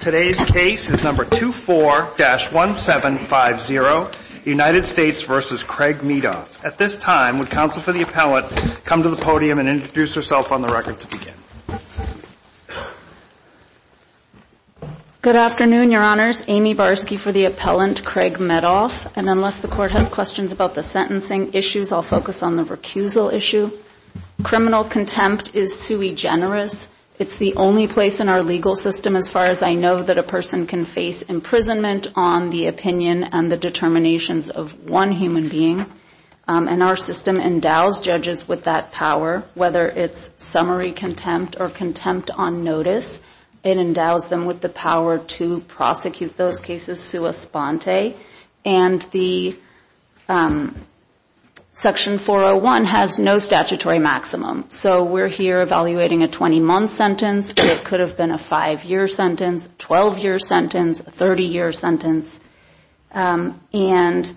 Today's case is number 24-1750, United States v. Craig Medoff. At this time, would counsel for the appellant come to the podium and introduce herself on the record to begin? Good afternoon, your honors. Amy Barsky for the appellant, Craig Medoff. And unless the court has questions about the sentencing issues, I'll focus on the recusal issue. Criminal contempt is sui generis. It's the only place in our legal system, as far as I know, that a person can face imprisonment on the opinion and the determinations of one human being. And our system endows judges with that power, whether it's summary contempt or contempt on notice, it endows them with the power to prosecute those cases sua sponte. And the section 401 has no statutory maximum. So we're here evaluating a 20-month sentence, but it could have been a five-year sentence, a 12-year sentence, a 30-year sentence. And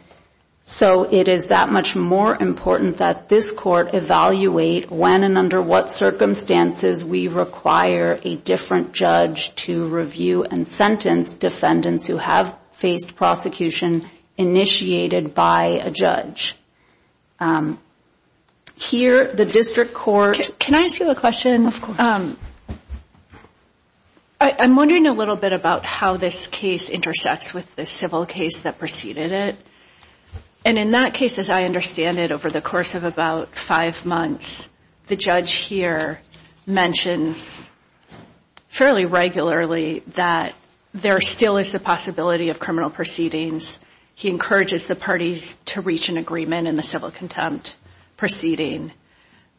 so it is that much more important that this court evaluate when and under what circumstances we require a different judge to review and sentence defendants who have faced prosecution initiated by a judge. Here, the district court... Can I ask you a question? Of course. I'm wondering a little bit about how this case intersects with this civil case that preceded it. And in that case, as I understand it, over the course of about five months, the judge here mentions fairly regularly that there still is the possibility of criminal proceedings. He encourages the parties to reach an agreement in the civil contempt proceeding.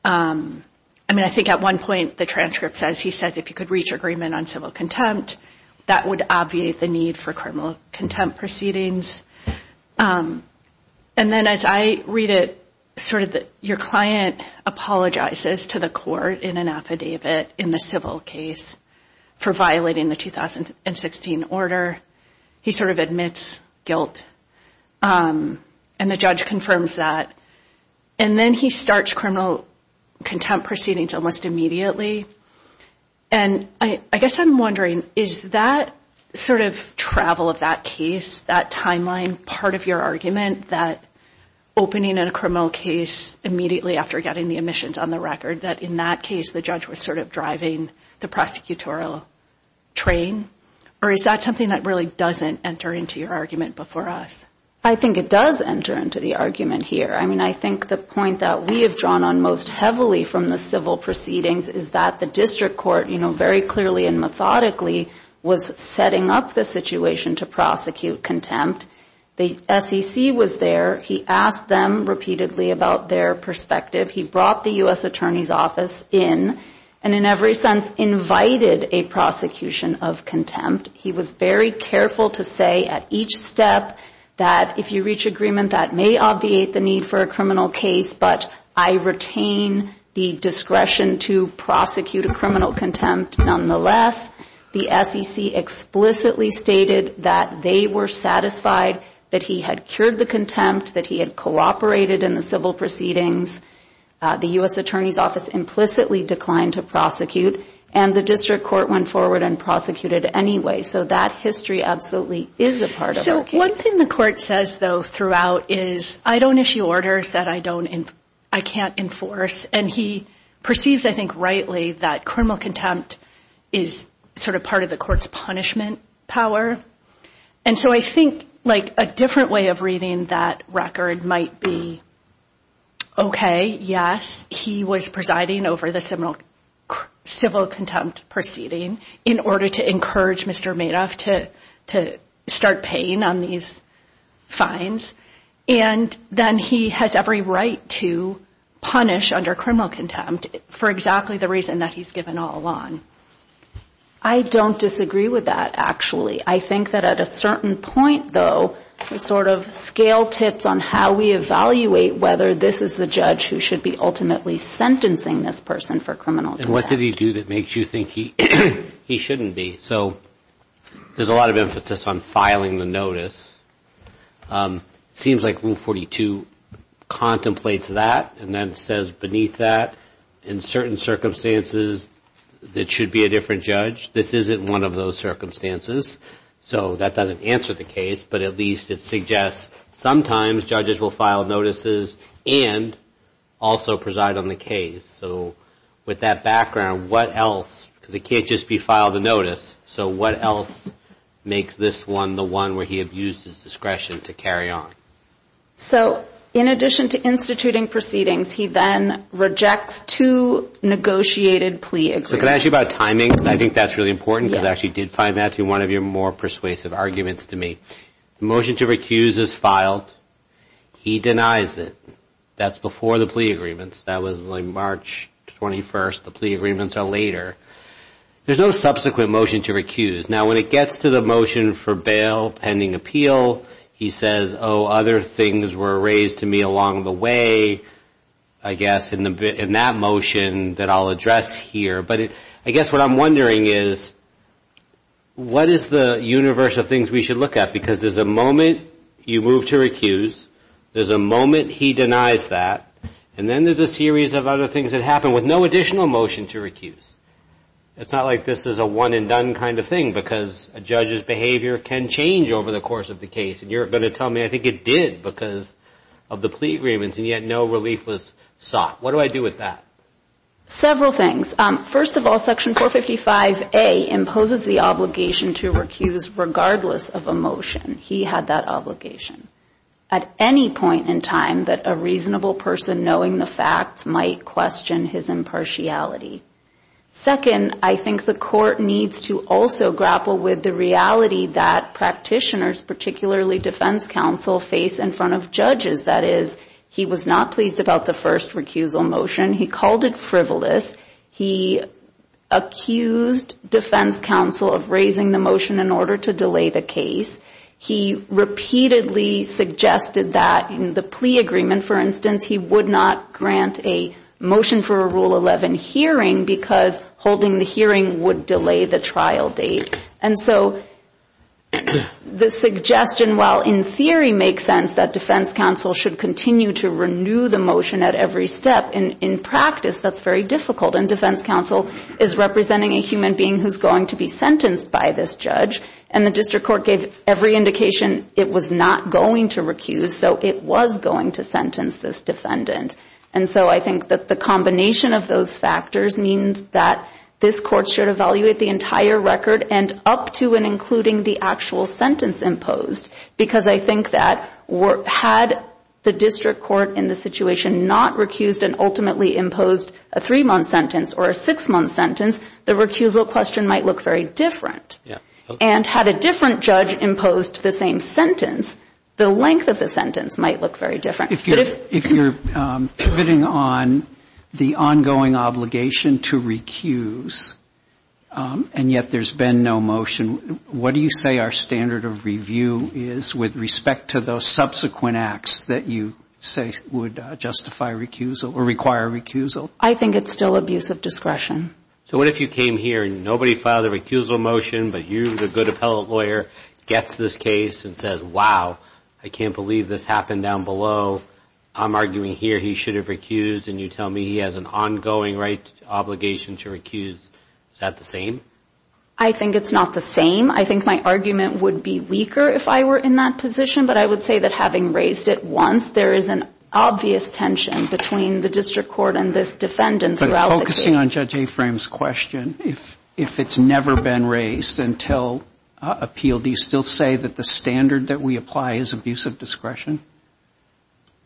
I mean, I think at one point the transcript says he says if you could reach agreement on civil contempt, that would obviate the need for criminal contempt proceedings. And then as I read it, sort of your client apologizes to the court in an affidavit in the civil case for violating the 2016 order. He sort of admits guilt. And the judge confirms that. And then he starts criminal contempt proceedings almost immediately. And I guess I'm wondering, is that sort of travel of that case, that timeline, part of your argument that opening a criminal case immediately after getting the omissions on the record, that in that case the judge was sort of driving the prosecutorial train? Or is that something that really doesn't enter into your argument before us? I think it does enter into the argument here. I mean, I think the point that we have drawn on most heavily from the civil proceedings is that the district court, you know, very clearly and methodically was setting up the situation to prosecute contempt. The SEC was there. He asked them repeatedly about their perspective. He brought the U.S. Attorney's Office in and in every sense invited a prosecution of contempt. He was very careful to say at each step that if you reach agreement that may obviate the need for a criminal case, but I retain the discretion to prosecute a criminal contempt. Nonetheless, the SEC explicitly stated that they were satisfied that he had cured the contempt, that he had cooperated in the civil proceedings. The U.S. Attorney's Office implicitly declined to prosecute, and the district court went forward and prosecuted anyway. So that history absolutely is a part of our case. So one thing the court says, though, throughout is, I don't issue orders that I can't enforce. And he perceives, I think rightly, that criminal contempt is sort of part of the court's punishment power. And so I think, like, a different way of reading that record might be, okay, yes, he was presiding over the civil contempt proceeding in order to encourage Mr. Madoff to start paying on these fines, and then he has every right to punish under criminal contempt for exactly the reason that he's given all along. I don't disagree with that, actually. I think that at a certain point, though, there's sort of scale tips on how we evaluate whether this is the judge who should be ultimately sentencing this person for criminal contempt. And what did he do that makes you think he shouldn't be? So there's a lot of emphasis on filing the notice. Seems like Rule 42 contemplates that, and then says beneath that, in certain circumstances, it should be a different judge. This isn't one of those circumstances. So that doesn't answer the case, but at least it suggests sometimes judges will file notices and also preside on the case. So with that background, what else, because it can't just be filed a notice, so what else makes this one the one where he abused his discretion to carry on? So in addition to instituting proceedings, he then rejects two negotiated plea agreements. So can I ask you about timing? I think that's really important, because I actually did find that to be one of your more persuasive arguments to me. The motion to recuse is filed. He denies it. That's before the plea agreements. That was March 21st. The plea agreements are later. There's no subsequent motion to recuse. Now when it gets to the motion for bail pending appeal, he says, oh, other things were raised to me along the way, I guess, in that motion that I'll address here. But I guess what I'm wondering is, what is the universe of things we should look at? Because there's a moment you move to recuse, there's a moment he denies that, and then there's a series of other things that happen with no additional motion to recuse. It's not like this is a one and done kind of thing, because a judge's behavior can change over the course of the case. And you're going to tell me, I think it did because of the plea agreements, and yet no relief was sought. What do I do with that? Several things. First of all, Section 455A imposes the obligation to recuse regardless of a motion. He had that obligation at any point in time that a reasonable person knowing the facts might question his impartiality. Second, I think the court needs to also grapple with the reality that practitioners, particularly defense counsel, face in front of judges. That is, he was not pleased about the first recusal motion. He called it frivolous. He accused defense counsel of raising the motion in order to delay the case. He repeatedly suggested that in the plea agreement, for instance, he would not grant a motion for a Rule 11 hearing because holding the hearing would delay the trial date. And so the suggestion, while in theory makes sense that defense counsel should continue to renew the motion at every step, in practice, that's very difficult. And defense counsel is representing a human being who's going to be sentenced by this judge. And the district court gave every indication it was not going to recuse, so it was going to sentence this defendant. And so I think that the combination of those factors means that this court should evaluate the entire record and up to and including the actual sentence imposed. Because I think that had the district court in the situation not recused and ultimately imposed a three-month sentence or a six-month sentence, the recusal question might look very different. And had a different judge imposed the same sentence, the length of the sentence might look very different. But if you're pitting on the ongoing obligation to recuse, and yet there's been no motion, what do you say our standard of review is with respect to those subsequent acts that you say would justify recusal or require recusal? I think it's still abuse of discretion. So what if you came here and nobody filed a recusal motion, but you, the good appellate lawyer, gets this case and says, wow, I can't believe this happened down below. I'm arguing here he should have recused, and you tell me he has an ongoing right obligation to recuse. Is that the same? I think it's not the same. I think my argument would be weaker if I were in that position. But I would say that having raised it once, there is an obvious tension between the district court and this defendant throughout the case. But focusing on Judge Afram's question, if it's never been raised until appeal, do you still say that the standard that we apply is abuse of discretion?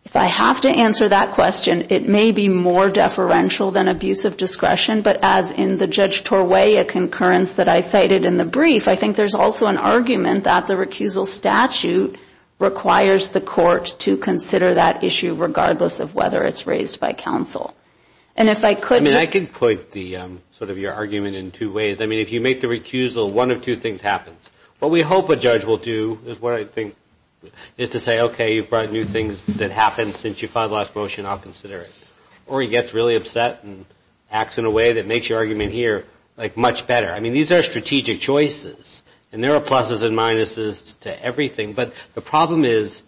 If I have to answer that question, it may be more deferential than abuse of discretion. But as in the Judge Torway, a concurrence that I cited in the brief, I think there's also an argument that the recusal statute requires the court to consider that issue regardless of whether it's raised by counsel. And if I could... I mean, I could put the, sort of, your argument in two ways. I mean, if you make the recusal, one of two things happens. What we hope a judge will do is what I think is to say, okay, you brought new things that happened since you filed the last motion, I'll consider it. Or he gets really upset and acts in a way that makes your argument here, like, much better. I mean, these are strategic choices, and there are pluses and minuses to everything. But the problem is,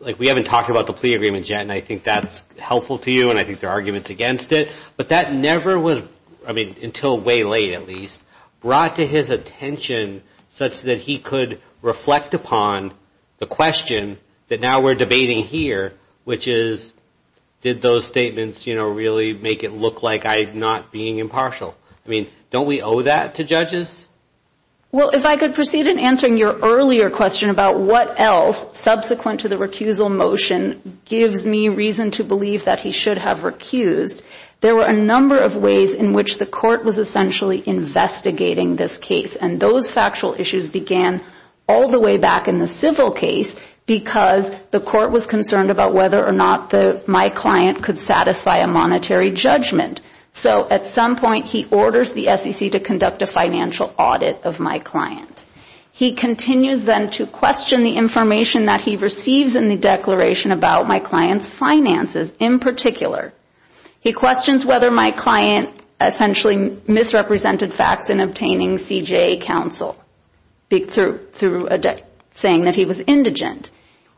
like, we haven't talked about the plea agreement yet, and I think that's helpful to you, and I think there are arguments against it. But that never was, I mean, until way late at least, brought to his attention such that he could reflect upon the question that now we're debating here, which is, did those statements, you know, really make it look like I'm not being impartial? I mean, don't we owe that to judges? Well, if I could proceed in answering your earlier question about what else, subsequent to the recusal motion, gives me reason to believe that he should have recused, there were a number of ways in which the court was essentially investigating this case, and those factual issues began all the way back in the civil case, because the court was concerned about whether or not my client could satisfy a monetary judgment. So at some point, he orders the SEC to conduct a financial audit of my client. He continues then to question the information that he receives in the declaration about my client's finances in particular. He questions whether my client essentially misrepresented facts in obtaining CJA counsel through saying that he was indigent.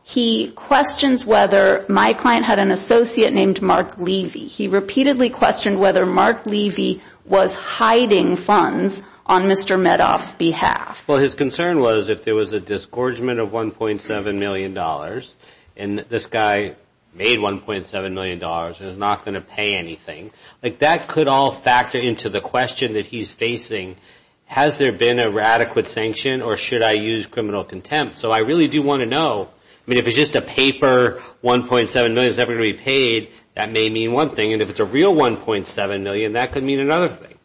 He questions whether my client had an associate named Mark Levy. He repeatedly questioned whether Mark Levy was hiding funds on Mr. Medoff's behalf. Well, his concern was if there was a disgorgement of $1.7 million, and this guy made $1.7 million, and is not going to pay anything, that could all factor into the question that he's facing. Has there been a radical sanction, or should I use criminal contempt? So I really do want to know. I mean, if it's just a paper, $1.7 million is never going to be paid, that may mean one thing, and if it's a real $1.7 million, that could mean another thing.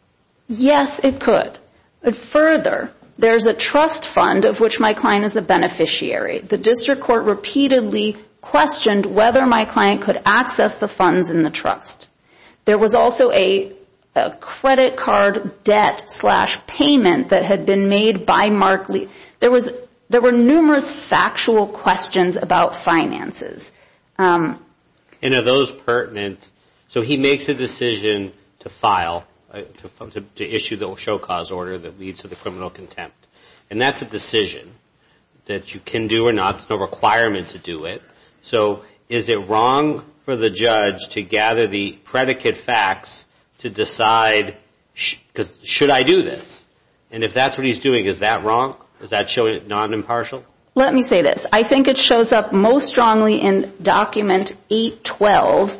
Yes, it could. But further, there's a trust fund of which my client is a beneficiary. The district court repeatedly questioned whether my client could access the funds in the trust. There was also a credit card debt-slash-payment that had been made by Mark Levy. There were numerous factual questions about finances. And are those pertinent? So he makes a decision to file, to issue the show cause order that leads to the criminal contempt. And that's a decision that you can do or not, there's no requirement to do it. So is it wrong for the judge to gather the predicate facts to decide, should I do this? And if that's what he's doing, is that wrong? Does that show you it's not impartial? Let me say this. I think it shows up most strongly in document 812,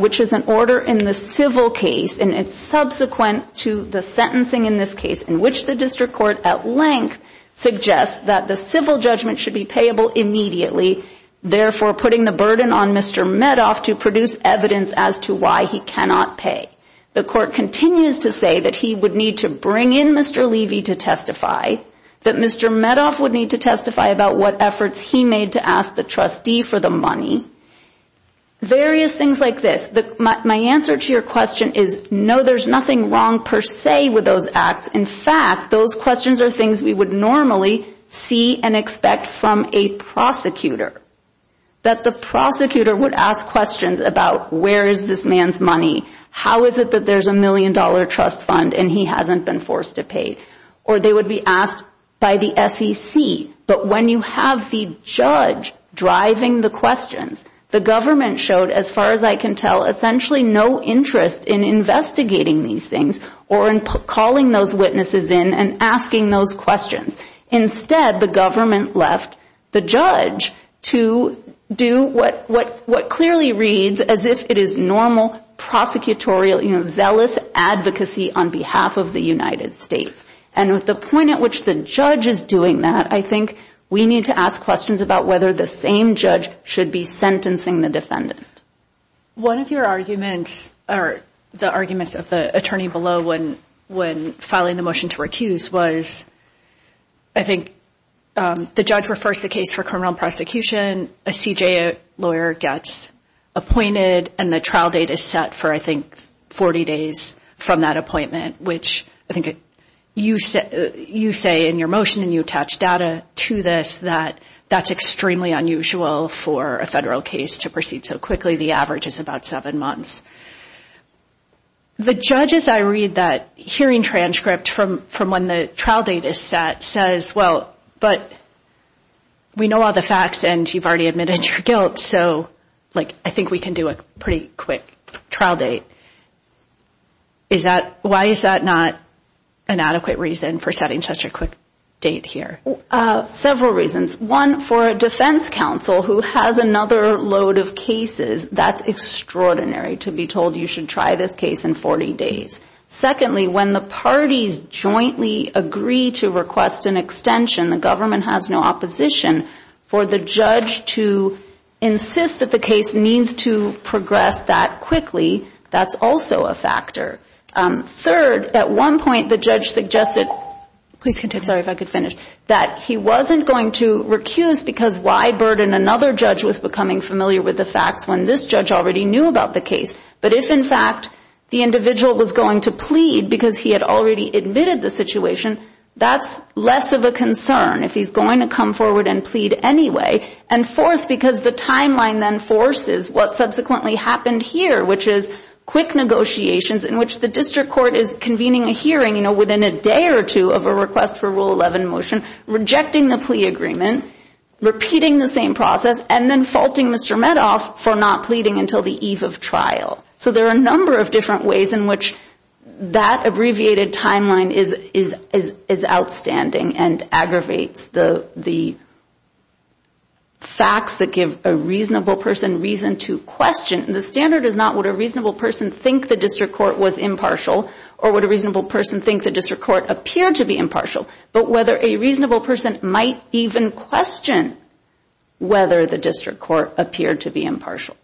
which is an order in the civil case, and it's subsequent to the sentencing in this case, in which the district court at length suggests that the civil judgment should be payable immediately, therefore putting the burden on Mr. Medoff to produce evidence as to why he cannot pay. The court continues to say that he would need to bring in Mr. Levy to testify, that Mr. Medoff would need to testify about what efforts he made to ask the trustee for the money. Various things like this. My answer to your question is no, there's nothing wrong per se with those acts. In fact, those questions are things we would normally see and expect from a prosecutor. That the prosecutor would ask questions about where is this man's money? How is it that there's a million dollar trust fund and he hasn't been forced to pay? Or they would be asked by the SEC, but when you have the judge driving the questions, the government showed, as far as I can tell, essentially no interest in investigating these things or in calling those witnesses in and asking those questions. Instead, the government left the judge to do what clearly reads as if it is normal prosecutorial zealous advocacy on behalf of the United States. With the point at which the judge is doing that, I think we need to ask questions about whether the same judge should be sentencing the defendant. One of your arguments, or the arguments of the attorney below when filing the motion to recuse was, I think the judge refers the case for criminal prosecution, a CJA lawyer gets appointed and the trial date is set for, I think, 40 days from that appointment, which I think you say in your motion and you attach data to this that that's extremely unusual for a federal case to proceed so quickly. The average is about seven months. The judge, as I read that hearing transcript from when the trial date is set, says, well, but we know all the facts and you've already admitted your guilt, so I think we can do a pretty quick trial date. Why is that not an adequate reason for setting such a quick date here? Several reasons. One, for a defense counsel who has another load of cases, that's extraordinary to be told you should try this case in 40 days. Secondly, when the parties jointly agree to request an extension, the government has no opposition for the judge to insist that the case needs to progress that quickly. That's also a factor. Third, at one point, the judge suggested that he wasn't going to recuse because why burden another judge with becoming familiar with the facts when this judge already knew about the case? But if, in fact, the individual was going to plead because he had already admitted the situation, that's less of a concern if he's going to come forward and plead anyway. And fourth, because the timeline then forces what subsequently happened here, which is quick negotiations in which the district court is convening a hearing within a day or two of a request for Rule 11 motion, rejecting the plea agreement, repeating the same process, and then faulting Mr. Medoff for not pleading until the eve of trial. So there are a number of different ways in which that abbreviated timeline is outstanding and aggravates the facts that give a reasonable person reason to question. The standard is not would a reasonable person think the district court was impartial or would a reasonable person think the district court appeared to be impartial, but whether a reasonable person might even question whether the district court appeared to be impartial.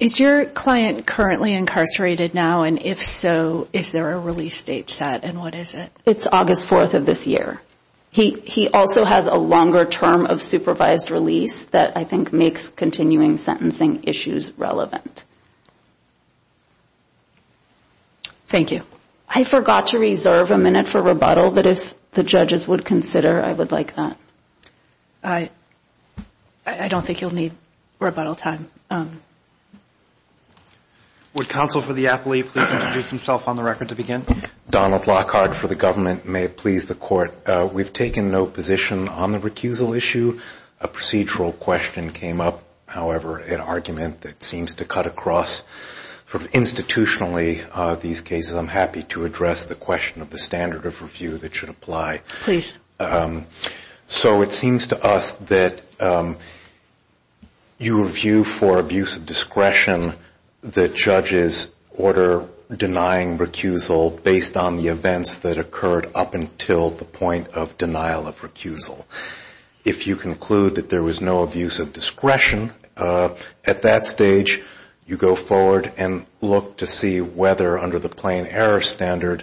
Is your client currently incarcerated now, and if so, is there a release date set and what is it? It's August 4th of this year. He also has a longer term of supervised release that I think makes continuing sentencing issues relevant. Thank you. I forgot to reserve a minute for rebuttal, but if the judges would consider, I would like that. I don't think you'll need rebuttal time. Would counsel for the appellee please introduce himself on the record to begin? Donald Lockhart for the government. May it please the court. We've taken no position on the recusal issue. A procedural question came up, however, an argument that seems to cut across institutionally these cases. I'm happy to address the question of the standard of review that should apply. So it seems to us that you review for abuse of discretion that judges order denying recusal based on the events that occurred up until the point of denial of recusal. If you conclude that there was no abuse of discretion at that stage, you go forward and look to see whether under the plain error standard,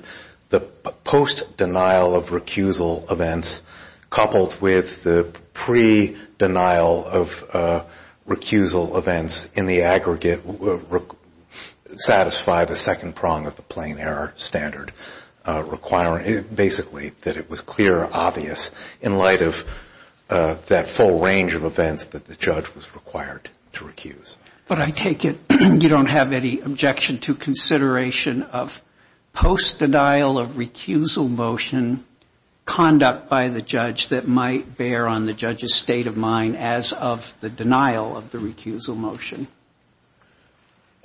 the post-denial of recusal events coupled with the pre-denial of recusal events in the aggregate would satisfy the second prong of the plain error standard, requiring basically that it was clear, obvious in light of that full range of events that the judge was required to recuse. But I take it you don't have any objection to consideration of post-denial of recusal motion conduct by the judge that might bear on the judge's state of mind as of the denial of the recusal motion?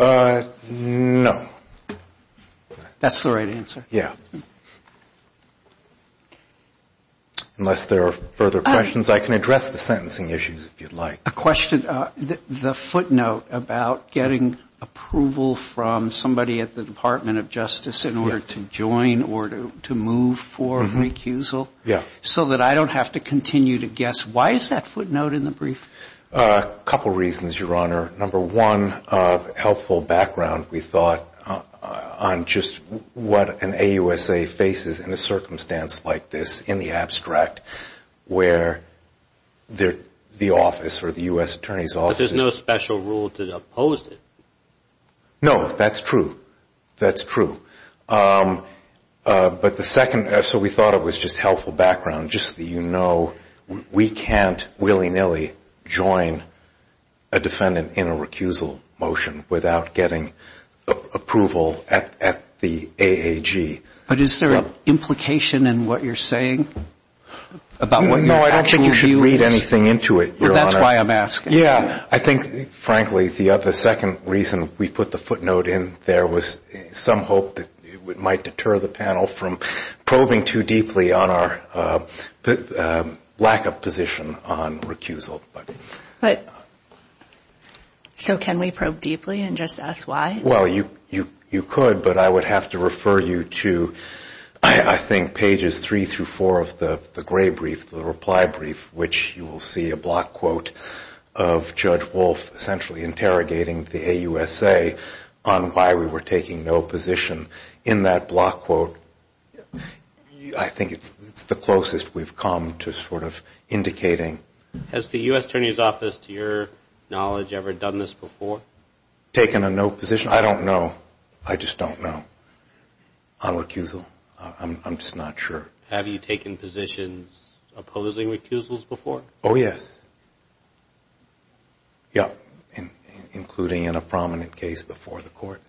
No. That's the right answer. Yeah. Unless there are further questions, I can address the sentencing issues if you'd like. A question, the footnote about getting approval from somebody at the Department of Justice in order to join or to move for recusal, so that I don't have to continue to guess, why is that footnote in the brief? A couple reasons, Your Honor. Number one, helpful background, we thought, on just what an AUSA faces in a circumstance like this, in the abstract, where the office or the U.S. Attorney's Office is- But there's no special rule to oppose it. No, that's true. That's true. But the second, so we thought it was just helpful background, just so you know, we can't willy-nilly join a defendant in a recusal motion without getting approval at the AAG. But is there an implication in what you're saying? About what your actual view is? No, I don't think you should read anything into it, Your Honor. That's why I'm asking. Yeah, I think, frankly, the second reason we put the footnote in there was some hope that it might deter the panel from probing too deeply on our lack of position on recusal. So can we probe deeply and just ask why? Well, you could, but I would have to refer you to, I think, pages three through four of the gray brief, the reply brief, which you will see a block quote of Judge Wolf essentially interrogating the AUSA on why we were taking no position in that block quote. I think it's the closest we've come to sort of indicating- Has the U.S. Attorney's Office, to your knowledge, ever done this before? Taken a no position? I don't know. I just don't know on recusal. I'm just not sure. Have you taken positions opposing recusals before? Oh, yes. Yeah, including in a prominent case before the court.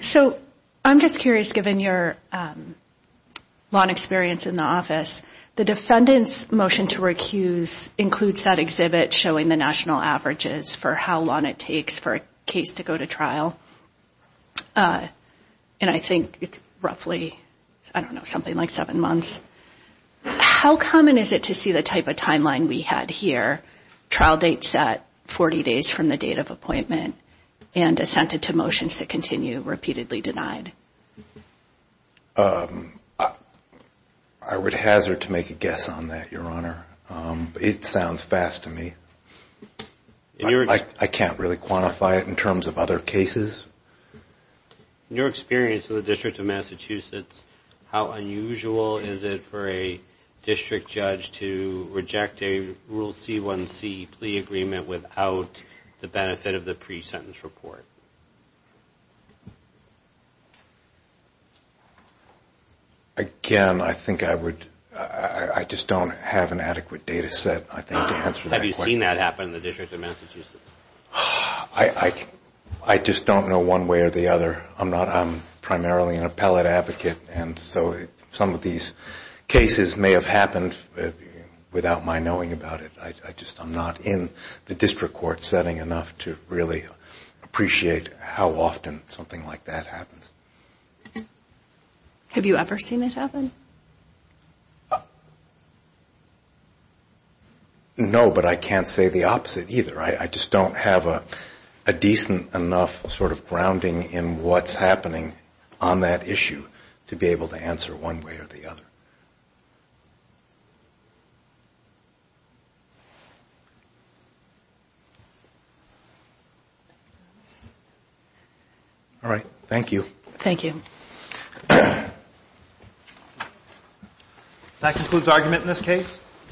So I'm just curious, given your long experience in the office, the defendant's motion to recuse includes that exhibit showing the national averages for how long it takes for a case to go to trial. And I think it's roughly, I don't know, something like seven months. How common is it to see the type of timeline we had here, trial date set 40 days from the date of appointment and assented to motions that continue repeatedly denied? I would hazard to make a guess on that, Your Honor. It sounds fast to me. I can't really quantify it in terms of other cases. In your experience with the District of Massachusetts, how unusual is it for a district judge to reject a Rule C-1C plea agreement without the benefit of the pre-sentence report? Again, I think I would, I just don't have an adequate data set, I think, to answer that question. Have you seen that happen in the District of Massachusetts? I just don't know one way or the other. I'm not, I'm primarily an appellate advocate, and so some of these cases may have happened without my knowing about it. I just, I'm not in the district court setting enough to really appreciate how often something like that happens. Have you ever seen it happen? No, but I can't say the opposite either. I just don't have a decent enough sort of grounding in what's happening on that issue to be able to answer one way or the other. All right. Thank you. Thank you. That concludes argument in this case.